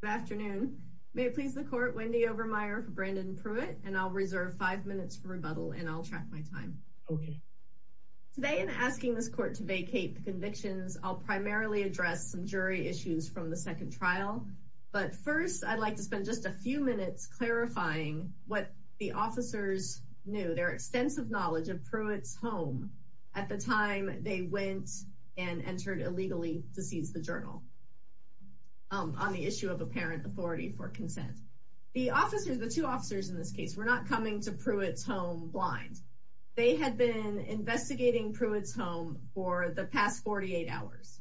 Good afternoon. May it please the court, Wendy Overmeyer for Brandon Pruitt and I'll reserve five minutes for rebuttal and I'll track my time. Today in asking this court to vacate the convictions, I'll primarily address some jury issues from the second trial, but first I'd like to spend just a few minutes clarifying what the officers knew, their extensive knowledge of Pruitt's home at the time they went and entered illegally to seize the journal on the issue of apparent authority for consent. The officers, the two officers in this case, were not coming to Pruitt's home blind. They had been investigating Pruitt's home for the past 48 hours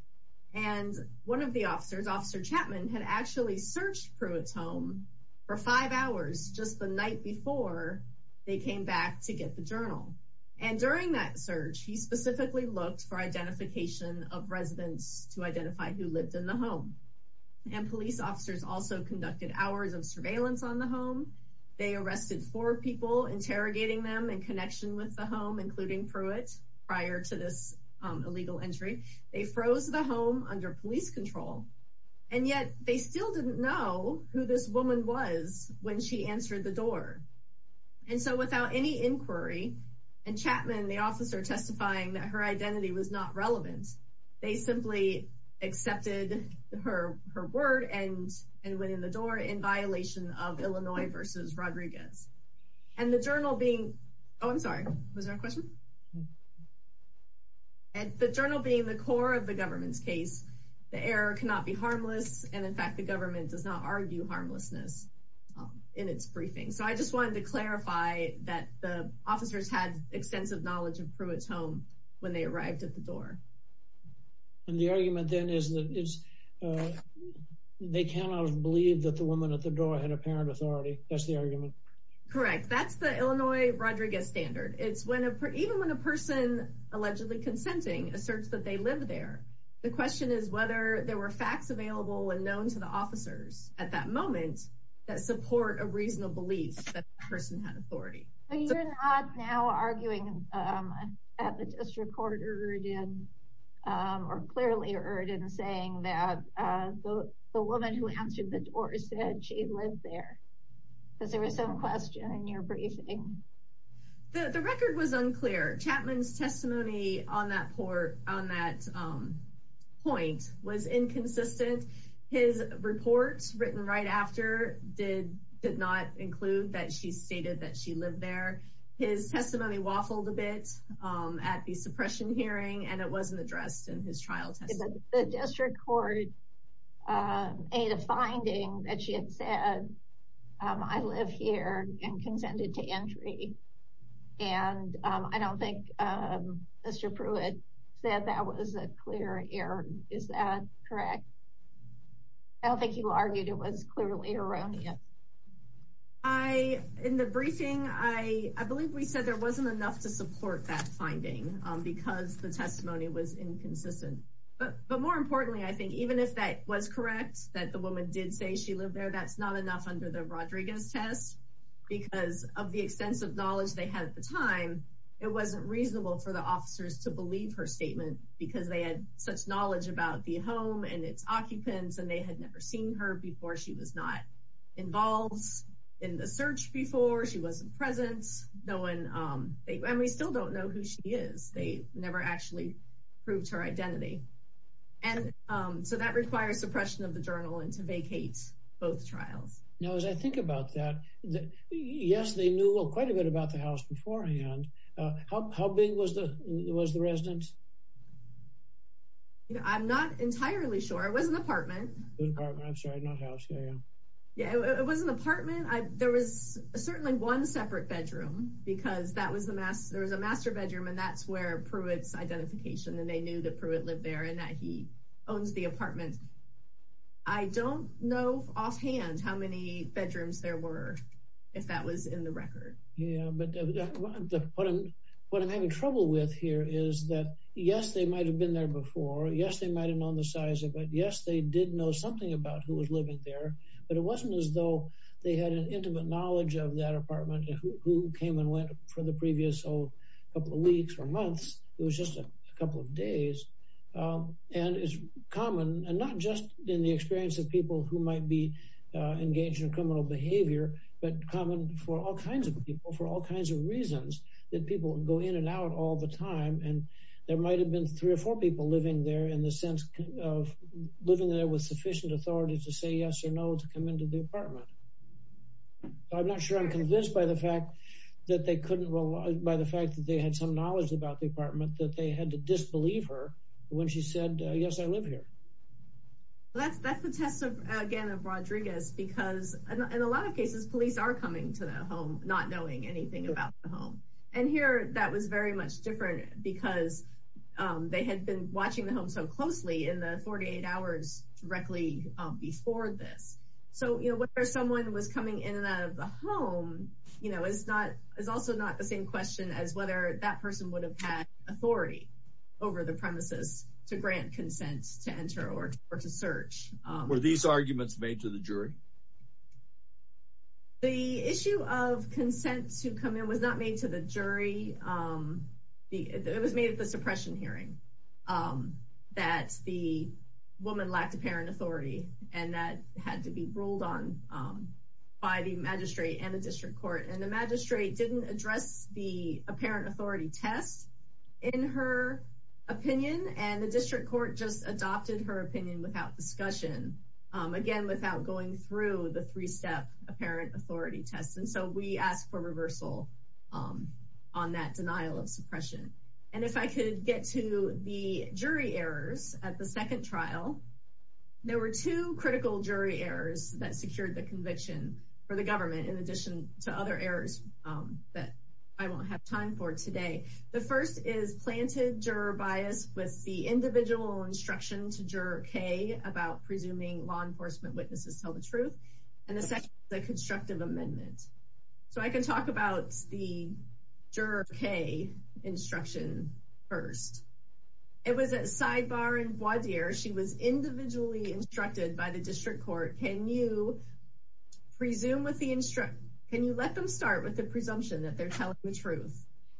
and one of the officers, Officer Chapman, had actually searched Pruitt's home for five hours just the night before they came back to get the book for identification of residents to identify who lived in the home. Police officers also conducted hours of surveillance on the home. They arrested four people interrogating them in connection with the home, including Pruitt prior to this illegal entry. They froze the home under police control and yet they still didn't know who this woman was when she answered the door. And so without any inquiry, and Chapman, the officer, testifying that her identity was not relevant, they simply accepted her word and went in the door in violation of Illinois v. Rodriguez. And the journal being, oh I'm sorry, was there a question? And the journal being the core of the government's case, the error cannot be harmless and in fact the government does not argue harmlessness in its briefing. So I just wanted to clarify that the officers had extensive knowledge of Pruitt's home when they arrived at the door. And the argument then is that they cannot have believed that the woman at the door had apparent authority. That's the argument? Correct. That's the Illinois Rodriguez standard. It's when a person, even when a person allegedly consenting, asserts that they live there. The question is whether there were facts available and known to the that support a reasonable belief that the person had authority. So you're not now arguing that the district court erred or clearly erred in saying that the woman who answered the door said she lived there. Because there was some question in your briefing. The record was unclear. Chapman's testimony on that point was inconsistent. His report written right after did not include that she stated that she lived there. His testimony waffled a bit at the suppression hearing and it wasn't addressed in his trial testimony. The district court made a finding that she had said I live here and consented to entry. And I don't think Mr. Pruitt said that was a clear error. Is that correct? I don't think you argued it was clearly erroneous. I in the briefing I I believe we said there wasn't enough to support that finding because the testimony was inconsistent. But more importantly, I think even if that was correct, that the woman did say she lived there, that's not enough under the Rodriguez test because of the extensive knowledge they had at the time, it wasn't reasonable for the officers to believe her statement because they had such knowledge about the home and its occupants and they had never seen her before. She was not involved in the search before. She wasn't presence. No one. Um, and we still don't know who she is. They never actually proved her identity. And, um, so that requires suppression of the journal and to vacate both trials. Now, as I think about that, yes, they knew quite a bit about the house beforehand. How big was the was the residence? I'm not entirely sure. It was an apartment. I'm sorry, not house. Yeah, it was an apartment. There was certainly one separate bedroom because that was the mass. There was a master bedroom, and that's where Pruitt's identification and they knew that Pruitt lived there and that he owns the offhand how many bedrooms there were, if that was in the record. But what I'm what I'm having trouble with here is that, yes, they might have been there before. Yes, they might have known the size of it. Yes, they did know something about who was living there, but it wasn't as though they had an intimate knowledge of that apartment who came and went for the previous old couple of weeks or months. It was just a couple of days. Um, and it's common and not just in the experience of people who might be engaged in criminal behavior, but common for all kinds of people for all kinds of reasons that people go in and out all the time. And there might have been three or four people living there in the sense of living there with sufficient authority to say yes or no to come into the apartment. I'm not sure I'm convinced by the fact that they couldn't by the fact that they had some knowledge about the apartment that they had to disbelieve her when she said, yes, I live here. That's that's the test of again of Rodriguez, because in a lot of cases, police are coming to the home, not knowing anything about the home. And here that was very much different because they had been watching the home so closely in the 48 hours directly before this. So, you know, where someone was coming in and out of the home, you know, is not is also not the same question as whether that person would have had authority over the premises to grant consent to enter or to search. Were these arguments made to the jury? The issue of consent to come in was not made to the jury. It was made of the suppression hearing that the woman lacked apparent authority and that had to be ruled on by the magistrate and the district court. And the magistrate didn't address the apparent authority test in her opinion. And the district court just adopted her opinion without discussion, again, without going through the three step apparent authority test. And so we asked for reversal on that denial of suppression. And if I could get to the jury errors at the second trial, there were two critical jury errors that secured the conviction for the government, in addition to other errors that I won't have time for today. The first is planted juror bias with the individual instruction to juror K about presuming law enforcement witnesses tell the truth. And the second, the constructive amendment. So I can talk about the juror K instruction first. It was at sidebar and voir dire. She was individually instructed by the district court, can you presume with the instruction? Can you let them start with the presumption that they're telling the truth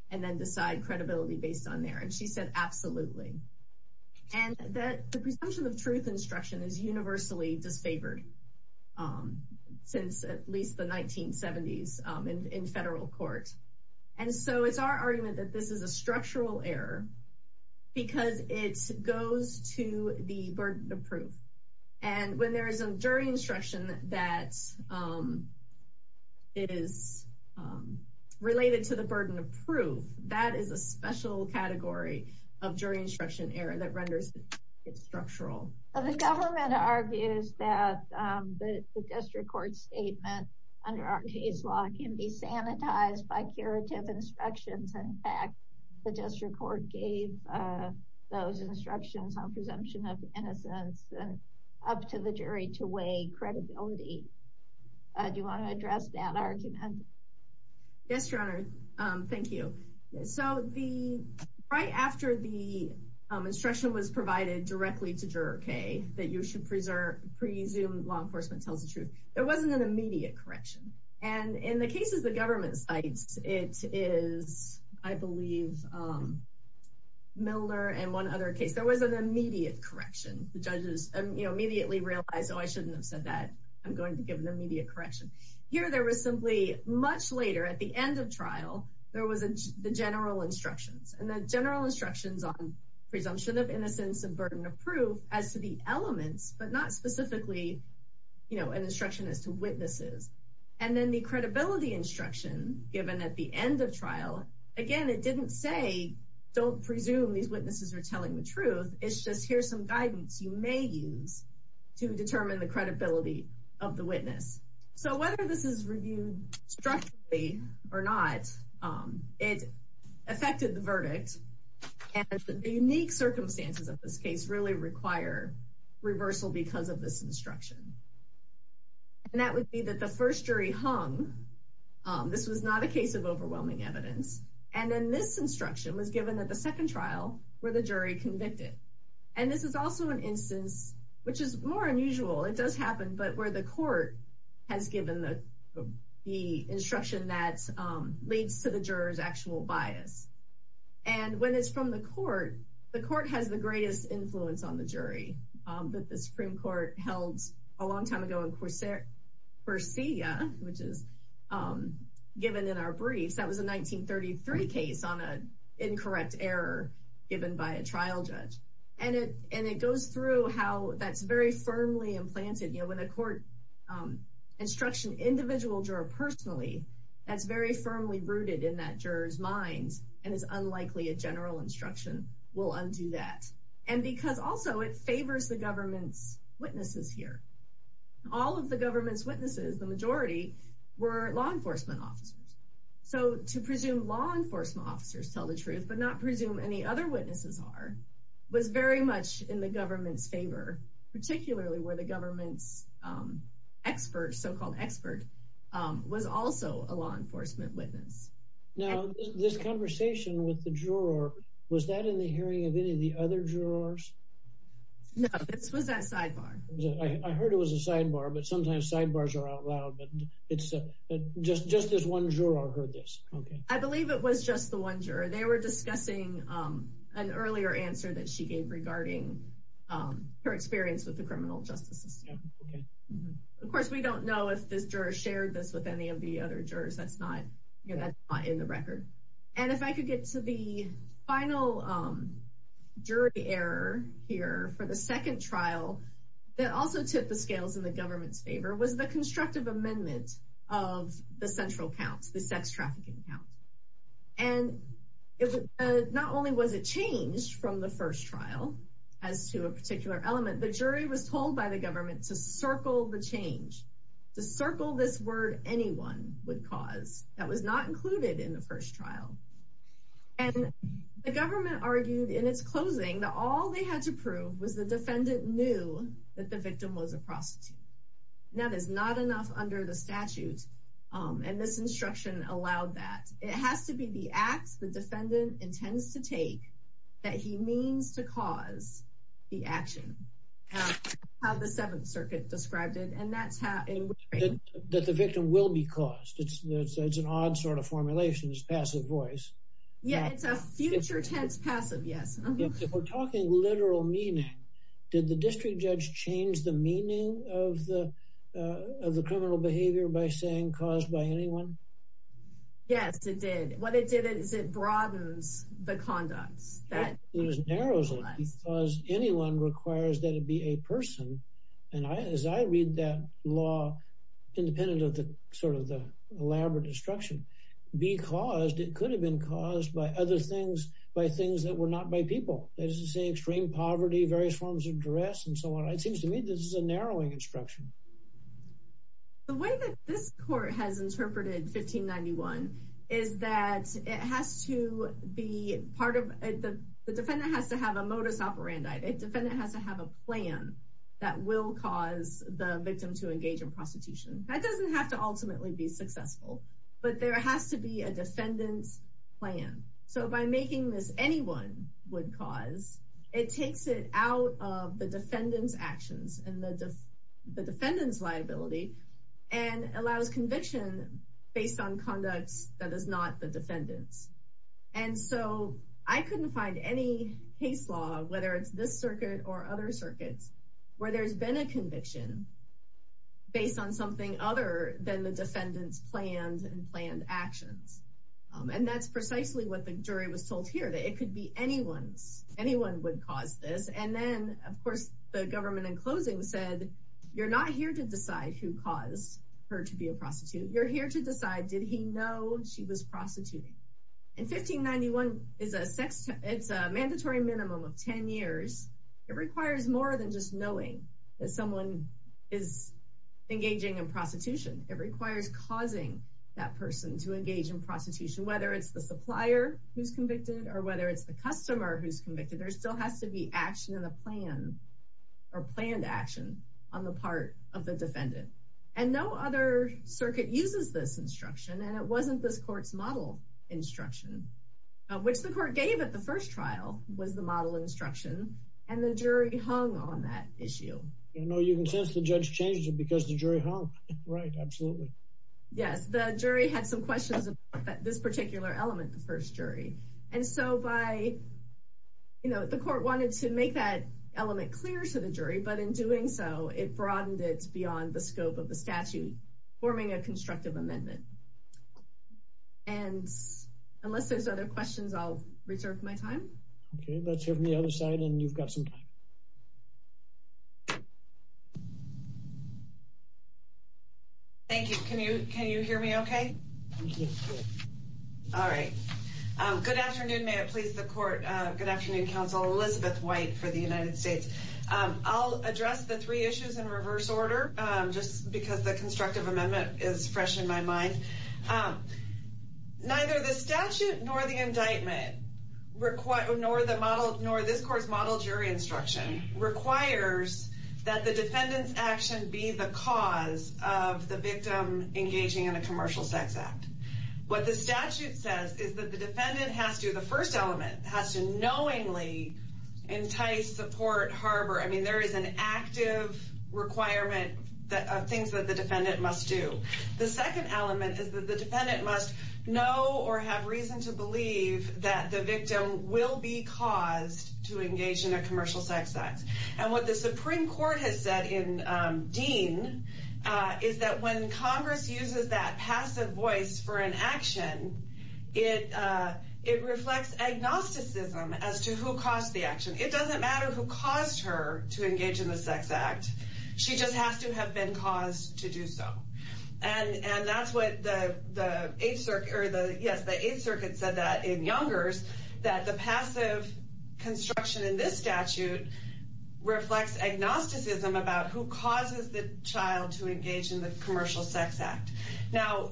and then decide credibility based on there? And she said, absolutely. And that the presumption of truth instruction is universally disfavored since at least the 1970s in federal court. And so it's our argument that this is a structural error, because it during instruction that is related to the burden of proof, that is a special category of jury instruction error that renders it structural. The government argues that the district court statement under our case law can be sanitized by curative instructions. In fact, the district court gave those the jury to weigh credibility. Do you want to address that argument? Yes, Your Honor. Thank you. So the right after the instruction was provided directly to juror K that you should preserve presume law enforcement tells the truth, there wasn't an immediate correction. And in the cases, the government sites, it is, I believe, Miller and one other case, there was an immediately realized, oh, I shouldn't have said that I'm going to give an immediate correction. Here, there was simply much later at the end of trial, there was the general instructions and the general instructions on presumption of innocence and burden of proof as to the elements, but not specifically, you know, an instruction as to witnesses, and then the credibility instruction given at the end of trial. Again, it didn't say, don't presume these witnesses are to determine the credibility of the witness. So whether this is reviewed structurally or not, it affected the verdict. And the unique circumstances of this case really require reversal because of this instruction. And that would be that the first jury hung. This was not a case of overwhelming evidence. And then this instruction was given that the second trial where the jury convicted. And this is also an instance, which is more unusual, it does happen, but where the court has given the instruction that leads to the jurors actual bias. And when it's from the court, the court has the greatest influence on the jury, that the Supreme Court held a long time ago in Corsair, Corsia, which is given in our briefs, that was a 1933 case on a incorrect error given by a trial judge. And it and it goes through how that's very firmly implanted, you know, when a court instruction individual juror personally, that's very firmly rooted in that jurors minds, and it's unlikely a general instruction will undo that. And because also it favors the government's witnesses here. All of the government's witnesses, the majority were law enforcement officers. So to presume law enforcement officers tell the truth, but not presume any other witnesses are, was very much in the government's favor, particularly where the government's expert, so called expert, was also a law enforcement witness. Now, this conversation with the juror, was that in the hearing of any of the other jurors? No, this was that sidebar. I heard it was a sidebar. But sometimes sidebars are out loud. But it's just just this one juror heard this. I believe it was just the one juror, they were discussing an earlier answer that she gave regarding her experience with the criminal justice system. Of course, we don't know if this juror shared this with any of the other jurors. That's not, you know, that's not in the record. And if I could get to the final jury error here for the second trial, that also took the scales in the government's favor was the count. And it was not only was it changed from the first trial, as to a particular element, the jury was told by the government to circle the change, to circle this word anyone would cause that was not included in the first trial. And the government argued in its closing, all they had to prove was the defendant knew that the victim was a prostitute. Now, there's not enough under the statute. And this it has to be the acts the defendant intends to take that he means to cause the action, how the Seventh Circuit described it. And that's how that the victim will be caused. It's an odd sort of formulation is passive voice. Yeah, it's a future tense passive. Yes. We're talking literal meaning. Did the district judge change the meaning of the of the criminal behavior by saying caused by anyone? Yes, it did. What it did is it broadens the conduct that was narrows because anyone requires that it be a person. And I as I read that law, independent of the sort of the elaborate instruction, because it could have been caused by other things, by things that were not by people, that is to say, extreme poverty, various forms of duress, and so on. It seems to me this is a narrowing instruction. The way that this court has interpreted 1591 is that it has to be part of the defendant has to have a modus operandi, a defendant has to have a plan that will cause the victim to engage in prostitution, that doesn't have to ultimately be successful. But there has to be a defendant's plan. So by making this anyone would cause it takes it out of the defendant's actions and the defendant's liability, and allows conviction based on conducts that is not the defendant's. And so I couldn't find any case law, whether it's this circuit or other circuits, where there's been a conviction based on something other than the defendant's plans and planned actions. And that's precisely what the jury was told here that it could be anyone's anyone would cause this. And then, of course, you're not here to decide who caused her to be a prostitute, you're here to decide, did he know she was prostituting. And 1591 is a mandatory minimum of 10 years, it requires more than just knowing that someone is engaging in prostitution, it requires causing that person to engage in prostitution, whether it's the supplier who's convicted, or whether it's the customer who's convicted, there still has to be action in the plan, or planned action on the part of the defendant. And no other circuit uses this instruction. And it wasn't this court's model instruction, which the court gave at the first trial was the model instruction, and the jury hung on that issue. You know, you can sense the judge changes it because the jury hung. Right, absolutely. Yes, the jury had some questions about this particular element, the first jury. And so by, you know, the court wanted to make that element clear to the jury, but in doing so, it broadened it beyond the scope of the statute, forming a constructive amendment. And unless there's other questions, I'll reserve my time. Okay, let's hear from the other side. And you've got some time. Thank you. Can you can you hear me? Okay. All right. Good afternoon. May it please the court. Good afternoon, counsel Elizabeth White for the United States. I'll address the three issues in reverse order, just because the constructive amendment is fresh in my mind. Neither the statute nor the indictment, nor this court's model jury instruction requires that the defendant's action be the cause of the victim engaging in a commercial sex act. What the statute says is that the defendant has to, the court harbor, I mean, there is an active requirement of things that the defendant must do. The second element is that the defendant must know or have reason to believe that the victim will be caused to engage in a commercial sex act. And what the Supreme Court has said in Dean is that when Congress uses that passive voice for an action, it reflects agnosticism as to who caused the action. It doesn't matter who caused her to engage in the sex act. She just has to have been caused to do so. And that's what the Eighth Circuit said that in Youngers, that the passive construction in this statute reflects agnosticism about who causes the child to engage in the commercial sex act. Now,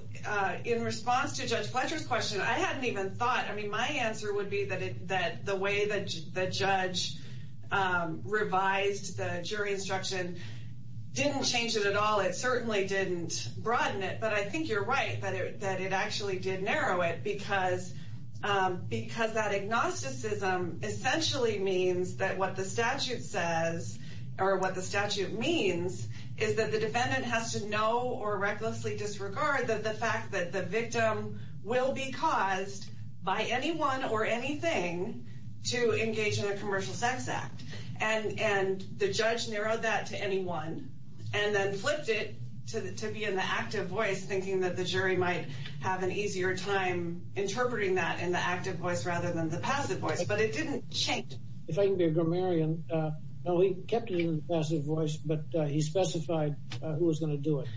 in response to Judge Fletcher's question, I hadn't even thought, I mean, my answer would be that the way that the judge revised the jury instruction didn't change it at all. It certainly didn't broaden it, but I think you're right that it actually did narrow it because that agnosticism essentially means that what the statute says, or what the statute means, is that the defendant has to know or recklessly disregard that the fact that the victim will be caused by anyone or anything to engage in a commercial sex act. And the judge narrowed that to anyone and then flipped it to be in the active voice, thinking that the jury might have an easier time interpreting that in the active voice rather than the passive voice. But it didn't change. If I can be a grammarian, he kept it in the passive voice, but he specified who was going to do it.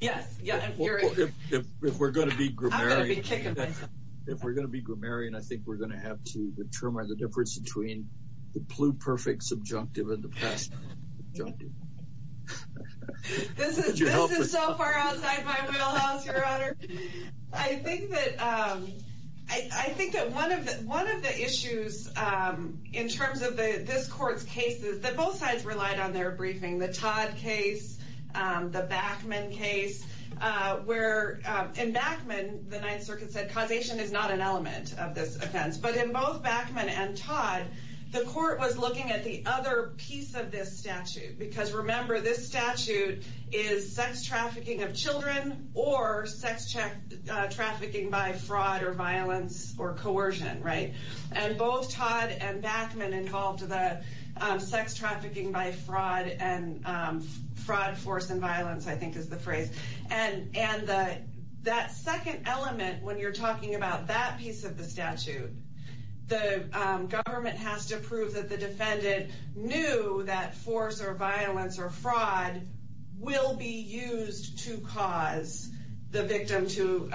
Yes, yeah. If we're going to be grammarian, I think we're going to have to determine the difference between the pluperfect subjunctive and the passive subjunctive. This is so far outside my wheelhouse, Your Honor. I think that one of the issues in terms of this court's cases, that both sides relied on their briefing, the Todd and Backman case, where in Backman, the Ninth Circuit said causation is not an element of this offense. But in both Backman and Todd, the court was looking at the other piece of this statute. Because remember, this statute is sex trafficking of children or sex trafficking by fraud or violence or coercion, right? And both Todd and Backman involved the sex trafficking by fraud and fraud, force and violence, I think is the phrase. And that second element, when you're talking about that piece of the statute, the government has to prove that the defendant knew that force or violence or fraud will be used to cause the victim to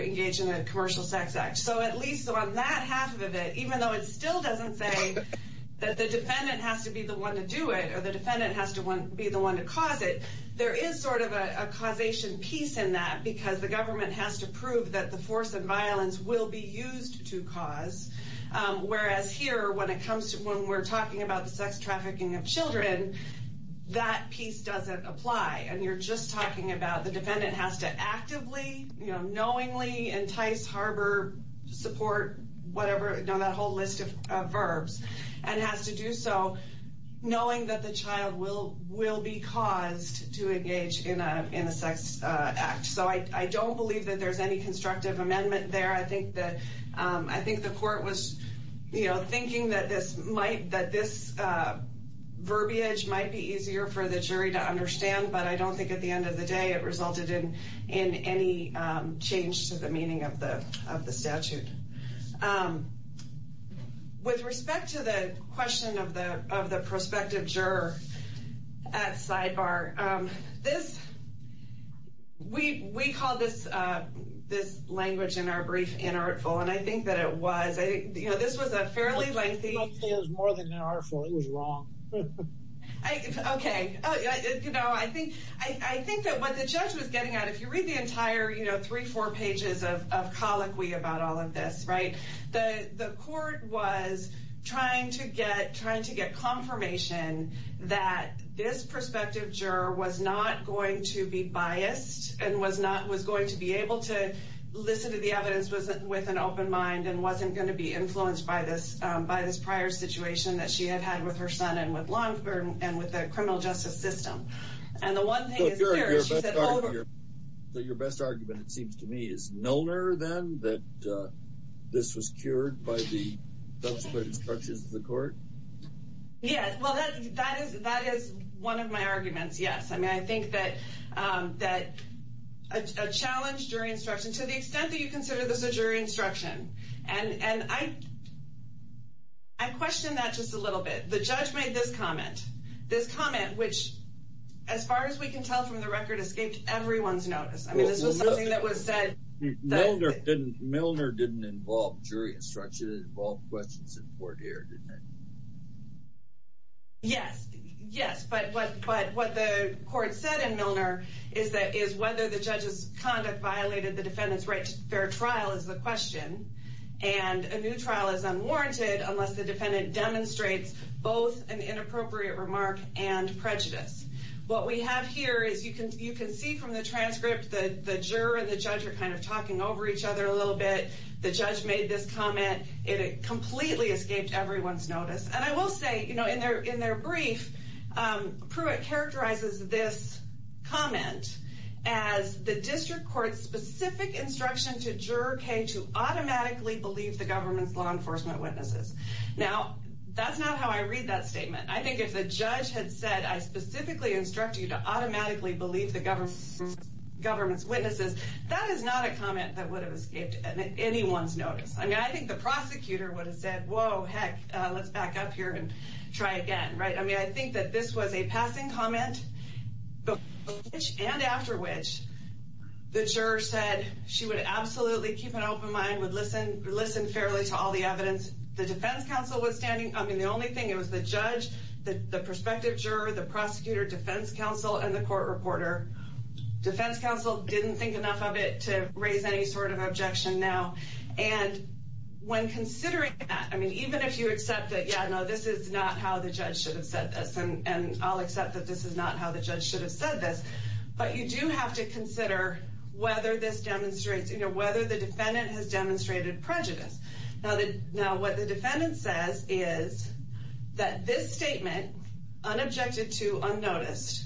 engage in a commercial sex act. So at least on that half of it, even though it still doesn't say that the defendant has to be the one to do it, or the defendant has to be the one to cause it, there is sort of a causation piece in that. Because the government has to prove that the force and violence will be used to cause. Whereas here, when we're talking about the sex trafficking of children, that piece doesn't apply. And you're just talking about the defendant has to actively, knowingly entice, harbor, support, whatever, that whole list of verbs, and has to do so knowing that the child will be caused to engage in a sex act. So I don't believe that there's any constructive amendment there. I think the court was, you know, thinking that this verbiage might be easier for the jury to understand, but I don't think at the end of the day it resulted in any change to the meaning of the statute. With respect to the question of the prospective juror at sidebar, we call this language in our brief, inartful, and I think that it was. I think this was a fairly lengthy... I was about to say it was more than inartful, it was wrong. Okay, I think that what the judge was getting at, if you read the entire, you know, three, four pages of colloquy about all of this, right, the court was trying to get confirmation that this prospective juror was not going to be biased, and was going to be able to listen to the evidence with an open mind, and wasn't going to be influenced by this prior situation that she had had with her son, and with the criminal justice system. Your best argument, it seems to me, is no error, then, that this was cured by the subsequent instructions of the court? Yes, well, that is one of my arguments, yes. I mean, I think that a challenge during instruction, to the extent that you consider this a jury instruction, and I question that just a little bit. The judge made this comment, which, as far as we can tell from the record, escaped everyone's notice. I mean, this was something that was said... Milner didn't involve jury instruction, it involved questions of court error, didn't it? Yes, yes, but what the court said in Milner is whether the judge's conduct violated the defendant's right to fair trial is the question, and a new trial is unwarranted unless the defendant demonstrates both an inappropriate remark and prejudice. What we have here is, you can see from the transcript, that the juror and the judge are kind of talking over each other a little bit. The judge made this comment, and it completely escaped everyone's notice. And I will say, you know, in their brief, Pruitt characterizes this comment as the district court's specific instruction to Juror K to automatically believe the Now, that's not how I read that statement. I think if the judge had said, I specifically instruct you to automatically believe the government's witnesses, that is not a comment that would have escaped anyone's notice. I mean, I think the prosecutor would have said, whoa, heck, let's back up here and try again, right? I mean, I think that this was a passing comment, and after which, the juror said she would absolutely keep an open mind, would listen fairly to all the evidence. The defense counsel was standing, I mean, the only thing, it was the judge, the prospective juror, the prosecutor, defense counsel, and the court reporter. Defense counsel didn't think enough of it to raise any sort of objection now. And when considering that, I mean, even if you accept that, yeah, no, this is not how the judge should have said this, and I'll accept that this is not how the judge should have said this, but you do have to consider whether this demonstrates, you know, whether the judge has created prejudice. Now, what the defendant says is that this statement, unobjected to, unnoticed,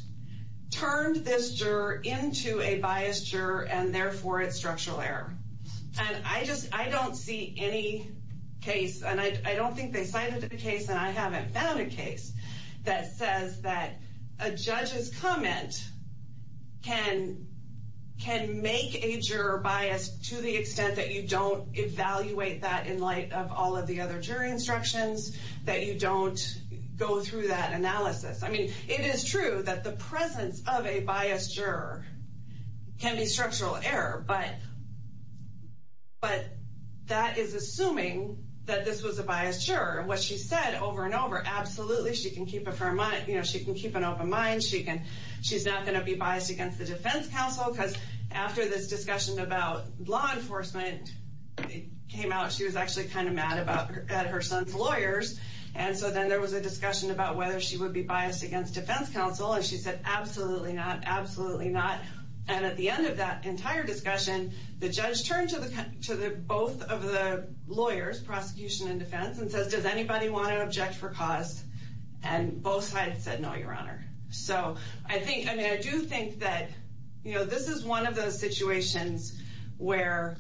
turned this juror into a biased juror, and therefore, it's structural error. And I just, I don't see any case, and I don't think they signed into the case, and I haven't found a case that says that a judge's comment can make a juror biased to the extent that you don't, evaluate that in light of all of the other jury instructions, that you don't go through that analysis. I mean, it is true that the presence of a biased juror can be structural error, but that is assuming that this was a biased juror. What she said over and over, absolutely, she can keep a firm, you know, she can keep an open mind, she can, she's not going to be biased against the defense counsel. It came out, she was actually kind of mad about her son's lawyers, and so then there was a discussion about whether she would be biased against defense counsel, and she said, absolutely not, absolutely not. And at the end of that entire discussion, the judge turned to both of the lawyers, prosecution and defense, and says, does anybody want to object for cause? And both sides said, no, your honor. So, I think, I mean, I do think that, you know, this is one of those situations where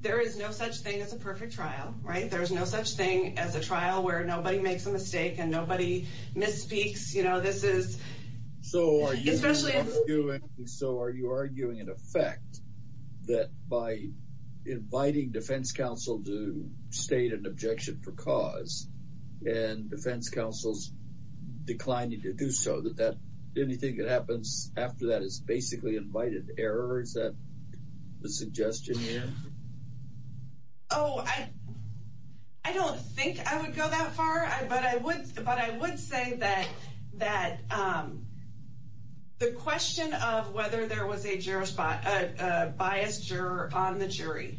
there is no such thing as a perfect trial, right? There's no such thing as a trial where nobody makes a mistake, and nobody misspeaks, you know, this is, especially. So, are you arguing, in effect, that by inviting defense counsel to state an objection for cause, and defense counsel's declining to do so, that that, when you think it happens after that, it's basically invited error? Is that the suggestion here? Oh, I don't think I would go that far, but I would say that the question of whether there was a biased juror on the jury,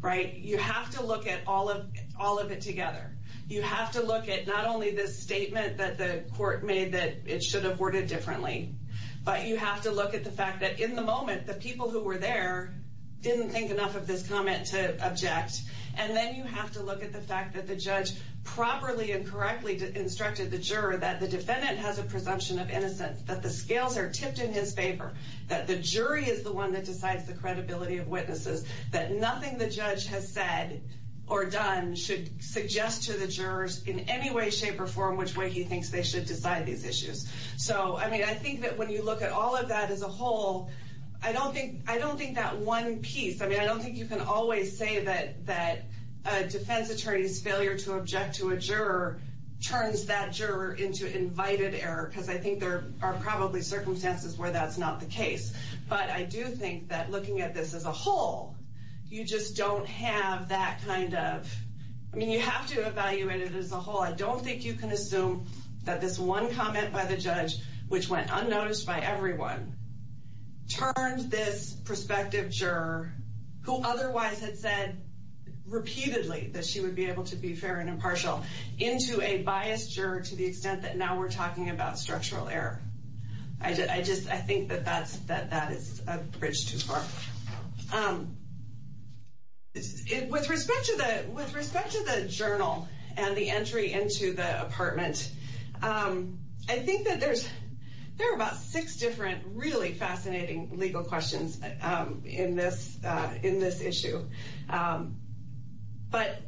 right? You have to look at all of it together. You have to look at not only this statement that the court made that it should have worded differently, but you have to look at the fact that, in the moment, the people who were there didn't think enough of this comment to object. And then you have to look at the fact that the judge properly and correctly instructed the juror that the defendant has a presumption of innocence. That the scales are tipped in his favor. That the jury is the one that decides the credibility of witnesses. That nothing the judge has said or done should suggest to the jurors in any way, shape, or form, which way he thinks they should decide these issues. So, I mean, I think that when you look at all of that as a whole, I don't think that one piece, I mean, I don't think you can always say that a defense attorney's failure to object to a juror turns that juror into invited error, because I think there are probably circumstances where that's not the case. But I do think that looking at this as a whole, you just don't have that kind of, I mean, you have to evaluate it as a whole. I don't think you can assume that this one comment by the judge, which went unnoticed by everyone, turned this prospective juror, who otherwise had said repeatedly that she would be able to be fair and impartial, into a biased juror to the extent that now we're talking about structural error. I just, I think that that is a bridge too far. With respect to the journal and the entry into the apartment, I think that there are about six different really fascinating legal questions in this issue. But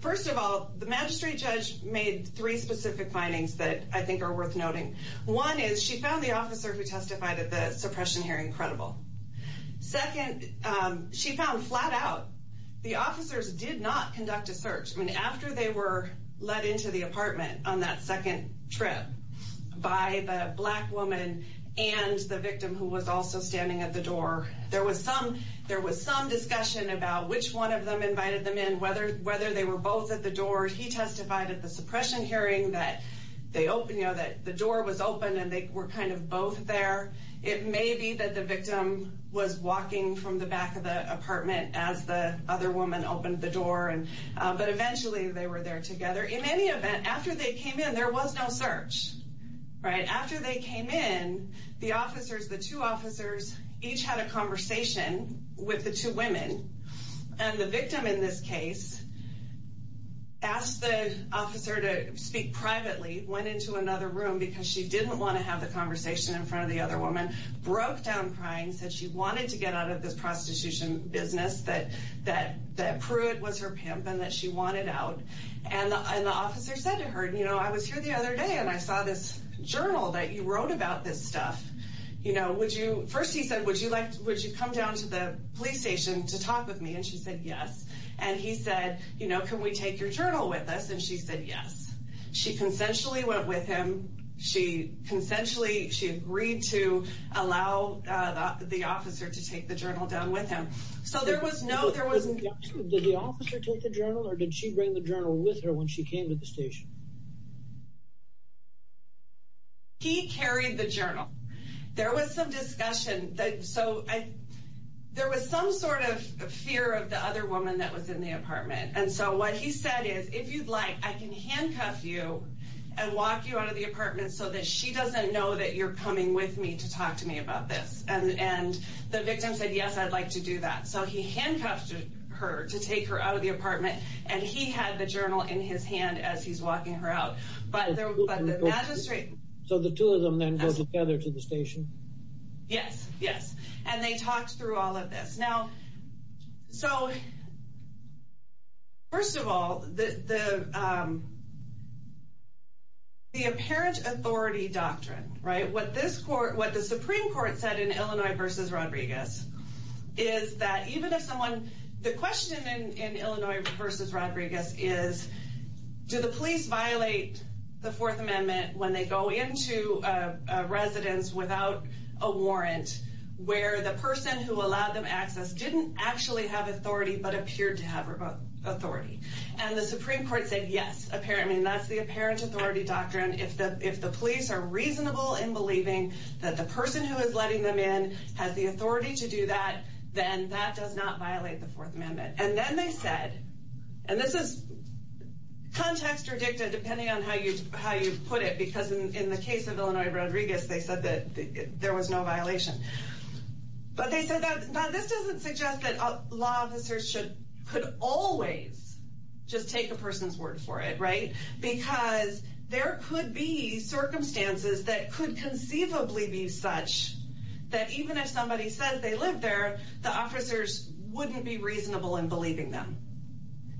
first of all, the magistrate judge made three specific findings that I think are worth noting. One is she found the officer who testified at the suppression hearing incredible. Second, she found flat out the officers did not conduct a search. I mean, after they were let into the apartment on that second trip by the black woman and the victim who was also standing at the door, there was some discussion about which one of them invited them in, whether they were both at the door. He testified at the suppression hearing that the door was open and they were kind of both there. It may be that the victim was walking from the back of the apartment as the other woman opened the door, but eventually they were there together. In any event, after they came in, there was no search, right? After they came in, the officers, the two officers, each had a conversation with the two women. And the victim in this case asked the officer to speak privately, went into another room because she didn't want to have the conversation in front of the other woman, broke down crying, said she wanted to get out of this prostitution business, that Pruitt was her pimp and that she wanted out. And the officer said to her, you know, I was here the other day and I saw this journal that you wrote about this stuff. You know, first he said, would you come down to the police station to talk with me? And she said, yes. And he said, you know, can we take your journal with us? And she said, yes. She consensually went with him. She consensually, she agreed to allow the officer to take the journal down with him. So there was no, there wasn't. Did the officer take the journal or did she bring the journal with her when she came to the station? He carried the journal. There was some discussion that, so I, there was some sort of fear of the other woman that was in the apartment. And so what he said is, if you'd like, I can handcuff you and walk you out of the apartment so that she doesn't know that you're coming with me to talk to me about this. And the victim said, yes, I'd like to do that. So he handcuffed her to take her out of the apartment. And he had the journal in his hand as he's walking her out. But the magistrate. So the two of them then go together to the station? Yes, yes. And they talked through all of this. Now, so first of all, the apparent authority doctrine, right, what this court, what the Supreme Court said in Illinois v. Rodriguez is that even if someone, the question in Illinois v. Rodriguez is, do the police violate the Fourth Amendment when they go into a And the Supreme Court said, yes, apparently, and that's the apparent authority doctrine. If the if the police are reasonable in believing that the person who is letting them in has the authority to do that, then that does not violate the Fourth Amendment. And then they said, and this is context or dicta, depending on how you how you put it, because in the case of Illinois, Rodriguez, they said that there was no violation. But they said that this doesn't suggest that law officers should could always just take a person's word for it. Right. Because there could be circumstances that could conceivably be such that even if somebody says they live there, the officers wouldn't be reasonable in believing them.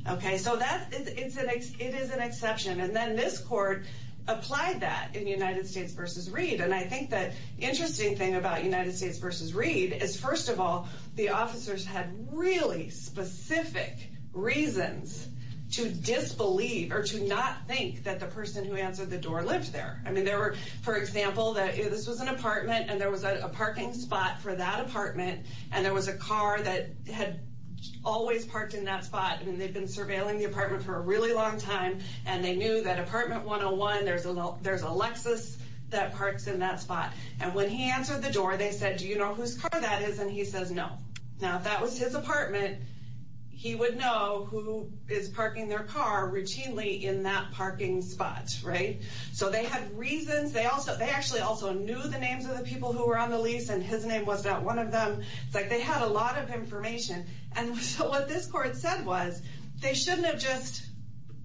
OK, so that it's an it is an exception. And then this court applied that in the United States v. Reid. And I think that interesting thing about United States v. Reid is, first of all, the officers had really specific reasons to disbelieve or to not think that the person who answered the door lived there. I mean, there were, for example, that this was an apartment and there was a parking spot for that apartment and there was a car that had always parked in that spot. And they've been surveilling the apartment for a really long time. And they knew that apartment 101, there's a there's a Lexus that parks in that spot. And when he answered the door, they said, do you know whose car that is? And he says no. Now, that was his apartment. He would know who is parking their car routinely in that parking spot. Right. So they had reasons. They also they actually also knew the names of the people who were on the lease and his name was not one of them. It's like they had a lot of information. And so what this court said was they shouldn't have just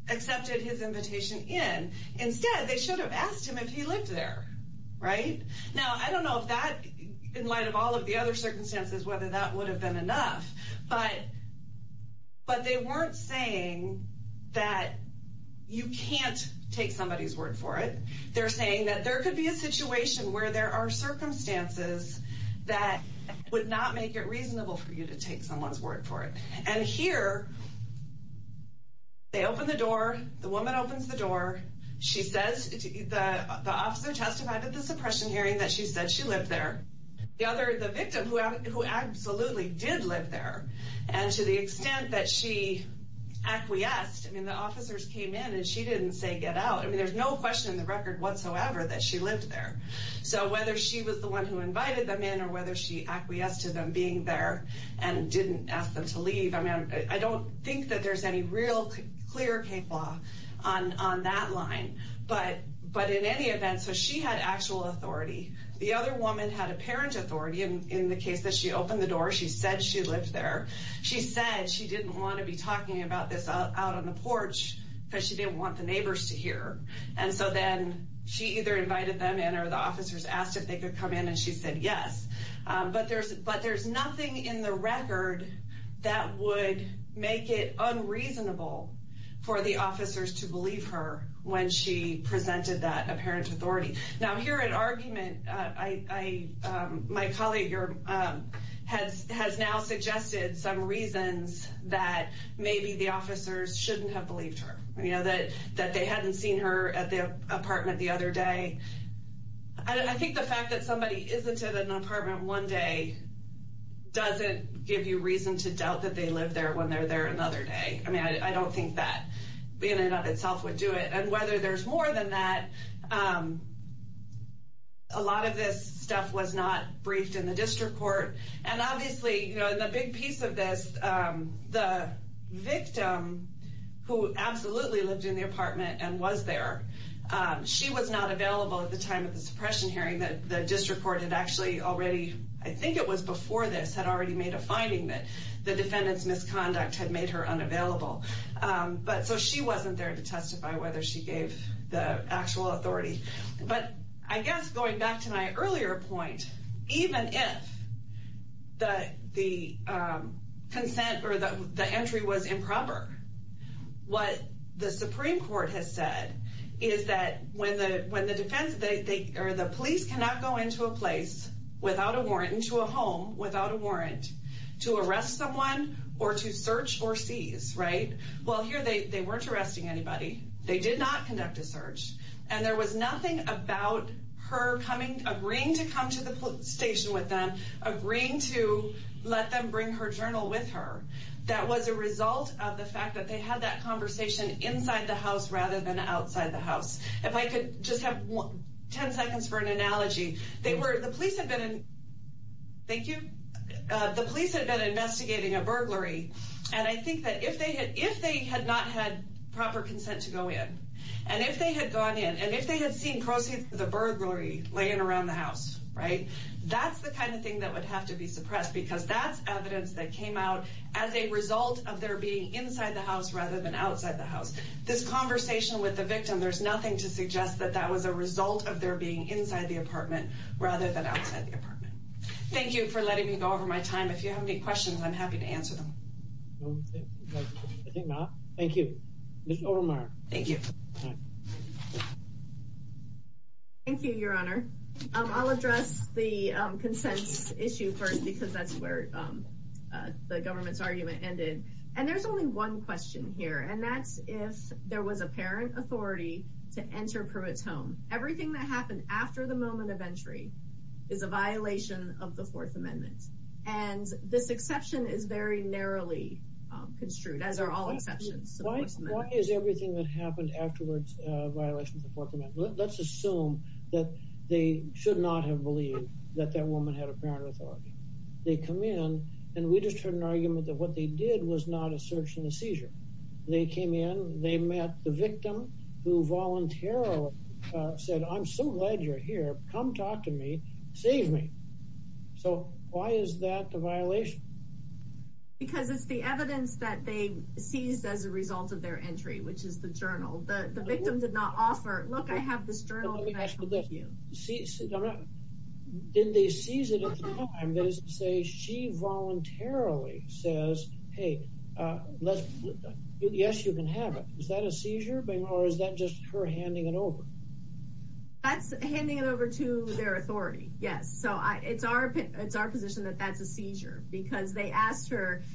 accepted his invitation in. Instead, they should have asked him if he lived there. Right. Now, I don't know if that in light of all of the other circumstances, whether that would have been enough. But but they weren't saying that you can't take somebody's word for it. They're saying that there could be a situation where there are circumstances that would not make it reasonable for you to take someone's word for it. And here they open the door. The woman opens the door. She says that the officer testified at the suppression hearing that she said she lived there. The other the victim who who absolutely did live there. And to the extent that she acquiesced, I mean, the officers came in and she didn't say get out. I mean, there's no question in the record whatsoever that she lived there. So whether she was the one who invited them in or whether she acquiesced to them being there and didn't ask them to leave, I mean, I don't think that there's any real clear case law on on that line, but but in any event, so she had actual authority. The other woman had apparent authority in the case that she opened the door. She said she lived there. She said she didn't want to be talking about this out on the porch because she didn't want the neighbors to hear. And so then she either invited them in or the officers asked if they could come in and she said yes. But there's but there's nothing in the record that would make it unreasonable for the officers to believe her when she presented that apparent authority. Now here an argument I my colleague, your head has now suggested some reasons that maybe the officers shouldn't have believed her, you know, that that they hadn't seen her at the apartment the other day. I think the fact that somebody isn't at an apartment one day doesn't give you reason to doubt that they live there when they're there another day. I mean, I don't think that being in and of itself would do it. And whether there's more than that, a lot of this stuff was not briefed in the district court. And obviously, you know, the big piece of this, the victim who absolutely lived in the apartment and was there, she was not available at the time of the suppression hearing that the district court had actually already, I think it was before this, had already made a finding that the defendant's misconduct had made her unavailable. But so she wasn't there to testify whether she gave the actual authority. But I guess going back to my earlier point, even if the consent or the entry was improper, what the Supreme Court has said is that when the police cannot go into a place without a warrant, into a home without a warrant, to arrest someone or to search or seize, right? Well, here they weren't arresting anybody. They did not conduct a search. And there was nothing about her coming, agreeing to come to the police station with them, agreeing to let them bring her journal with her. That was a result of the fact that they had that conversation inside the house rather than outside the house. If I could just have 10 seconds for an analogy. They were, the police had been, thank you, the police had been investigating a burglary. And I think that if they had not had proper consent to go in, and if they had gone in, and if they had seen proceeds from the burglary laying around the house, right? That's the kind of thing that would have to be suppressed because that's evidence that came out as a result of their being inside the house rather than outside the house. This conversation with the victim, there's nothing to suggest that that was a result of their being inside the apartment rather than outside the apartment. Thank you for letting me go over my time. If you have any questions, I'm happy to answer them. I think not. Thank you. Thank you. Thank you, Your Honor. I'll address the consent issue first, because that's where the government's argument ended. And there's only one question here, and that's if there was apparent authority to enter Pruitt's home. Everything that happened after the moment of entry is a violation of the Fourth Amendment. This exception is very narrowly construed, as are all exceptions. Why is everything that happened afterwards a violation of the Fourth Amendment? Let's assume that they should not have believed that that woman had apparent authority. They come in and we just heard an argument that what they did was not a search and a seizure. They came in, they met the victim who voluntarily said, I'm so glad you're here. Come talk to me. Save me. So why is that a violation? Because it's the evidence that they seized as a result of their entry, which is the journal that the victim did not offer. Look, I have this journal. Let me ask you this. Did they seize it at the time? That is to say, she voluntarily says, hey, yes, you can have it. Is that a seizure? Or is that just her handing it over? That's handing it over to their authority. Yes. So it's our it's our position that that's a seizure because they asked her,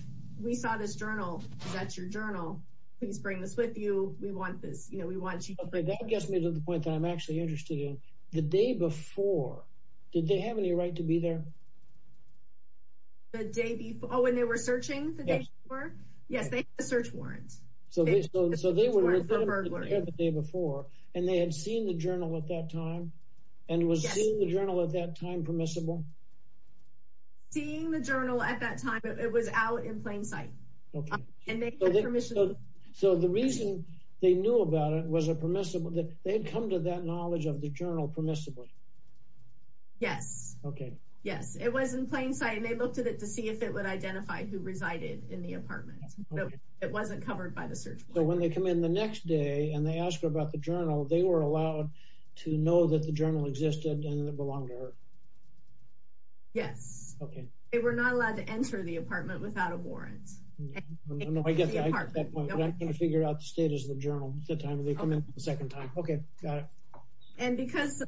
we saw this journal. That's your journal. Please bring this with you. We want this. You know, we want you to get me to the point that I'm actually interested in. The day before, did they have any right to be there? The day before when they were searching the day before. Yes, they had a search warrant. So they were there the day before and they had seen the journal at that time and was the journal at that time permissible? Seeing the journal at that time, it was out in plain sight and they had permission. So the reason they knew about it was a permissible that they had come to that knowledge of the journal permissibly. Yes. OK, yes, it was in plain sight and they looked at it to see if it would identify who resided in the apartment. It wasn't covered by the search. So when they come in the next day and they ask about the journal, they were allowed to know that the journal existed and it belonged to her. Yes. OK. They were not allowed to enter the apartment without a warrant. No, I get that. I get that point. I'm trying to figure out the status of the journal at the time they come in the second time. OK, got it. And because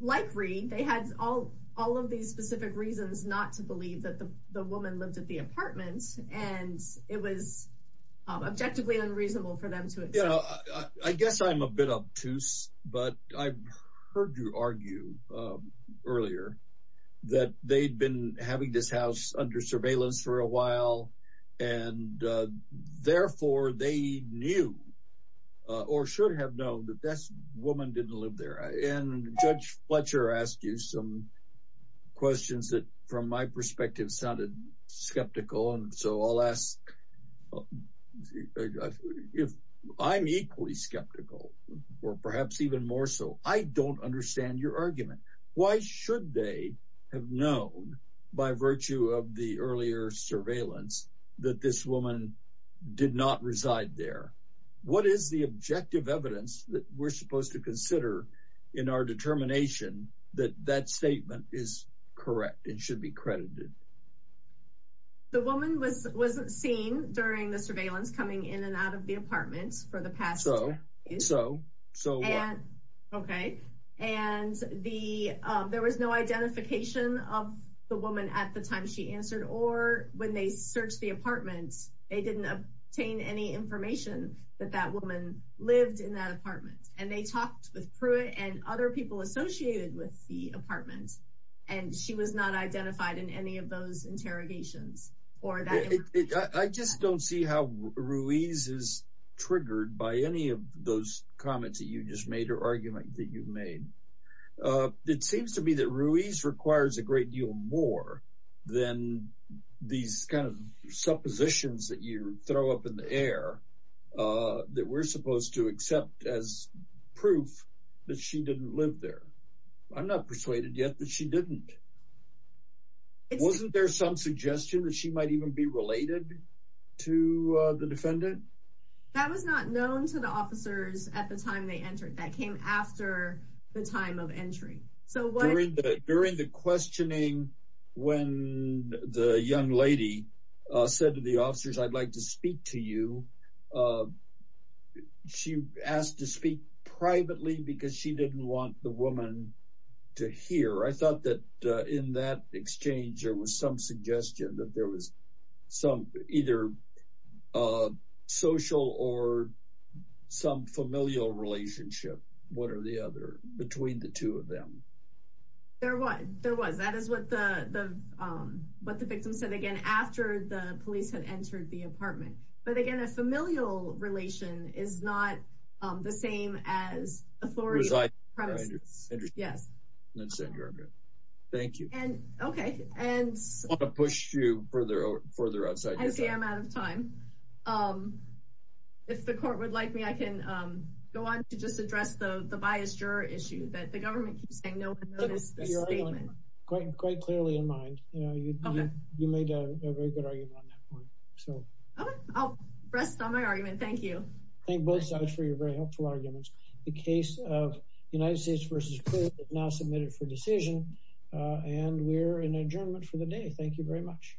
like Reed, they had all all of these specific reasons not to believe that the woman lived at the apartment and it was objectively unreasonable for them to opt to. But I heard you argue earlier that they'd been having this house under surveillance for a while and therefore they knew or should have known that this woman didn't live there. And Judge Fletcher asked you some questions that from my perspective sounded skeptical. So I'll ask if I'm equally skeptical or perhaps even more so, I don't understand your argument. Why should they have known by virtue of the earlier surveillance that this woman did not reside there? What is the objective evidence that we're supposed to consider in our determination that that statement is correct and should be credited? The woman was was seen during the surveillance coming in and out of the apartment for the past. So, so, so. And OK, and the there was no identification of the woman at the time she answered or when they searched the apartment, they didn't obtain any information that that woman lived in that apartment and they talked with Pruitt and other people associated with the of those interrogations or that I just don't see how Ruiz is triggered by any of those comments that you just made or argument that you've made. It seems to me that Ruiz requires a great deal more than these kind of suppositions that you throw up in the air that we're supposed to accept as proof that she didn't live there. I'm not persuaded yet that she didn't. It wasn't there some suggestion that she might even be related to the defendant? That was not known to the officers at the time they entered that came after the time of entry. So during the during the questioning, when the young lady said to the officers, I'd like to speak to you. She asked to speak privately because she didn't want the woman to hear. I thought that in that exchange, there was some suggestion that there was some either social or some familial relationship. What are the other between the two of them? There was there was that is what the what the victim said again after the police had entered the apartment. But again, a familial relation is not the same as authority. It was like, yes, that's it. Thank you. And OK, and to push you further, further outside, I'm out of time. If the court would like me, I can go on to just address the bias juror issue that the government keeps saying no. Quite, quite clearly in mind, you know, you made a very good argument on that one. So I'll rest on my argument. Thank you. Thank both sides for your very helpful arguments. The case of United States versus now submitted for decision. And we're in adjournment for the day. Thank you very much.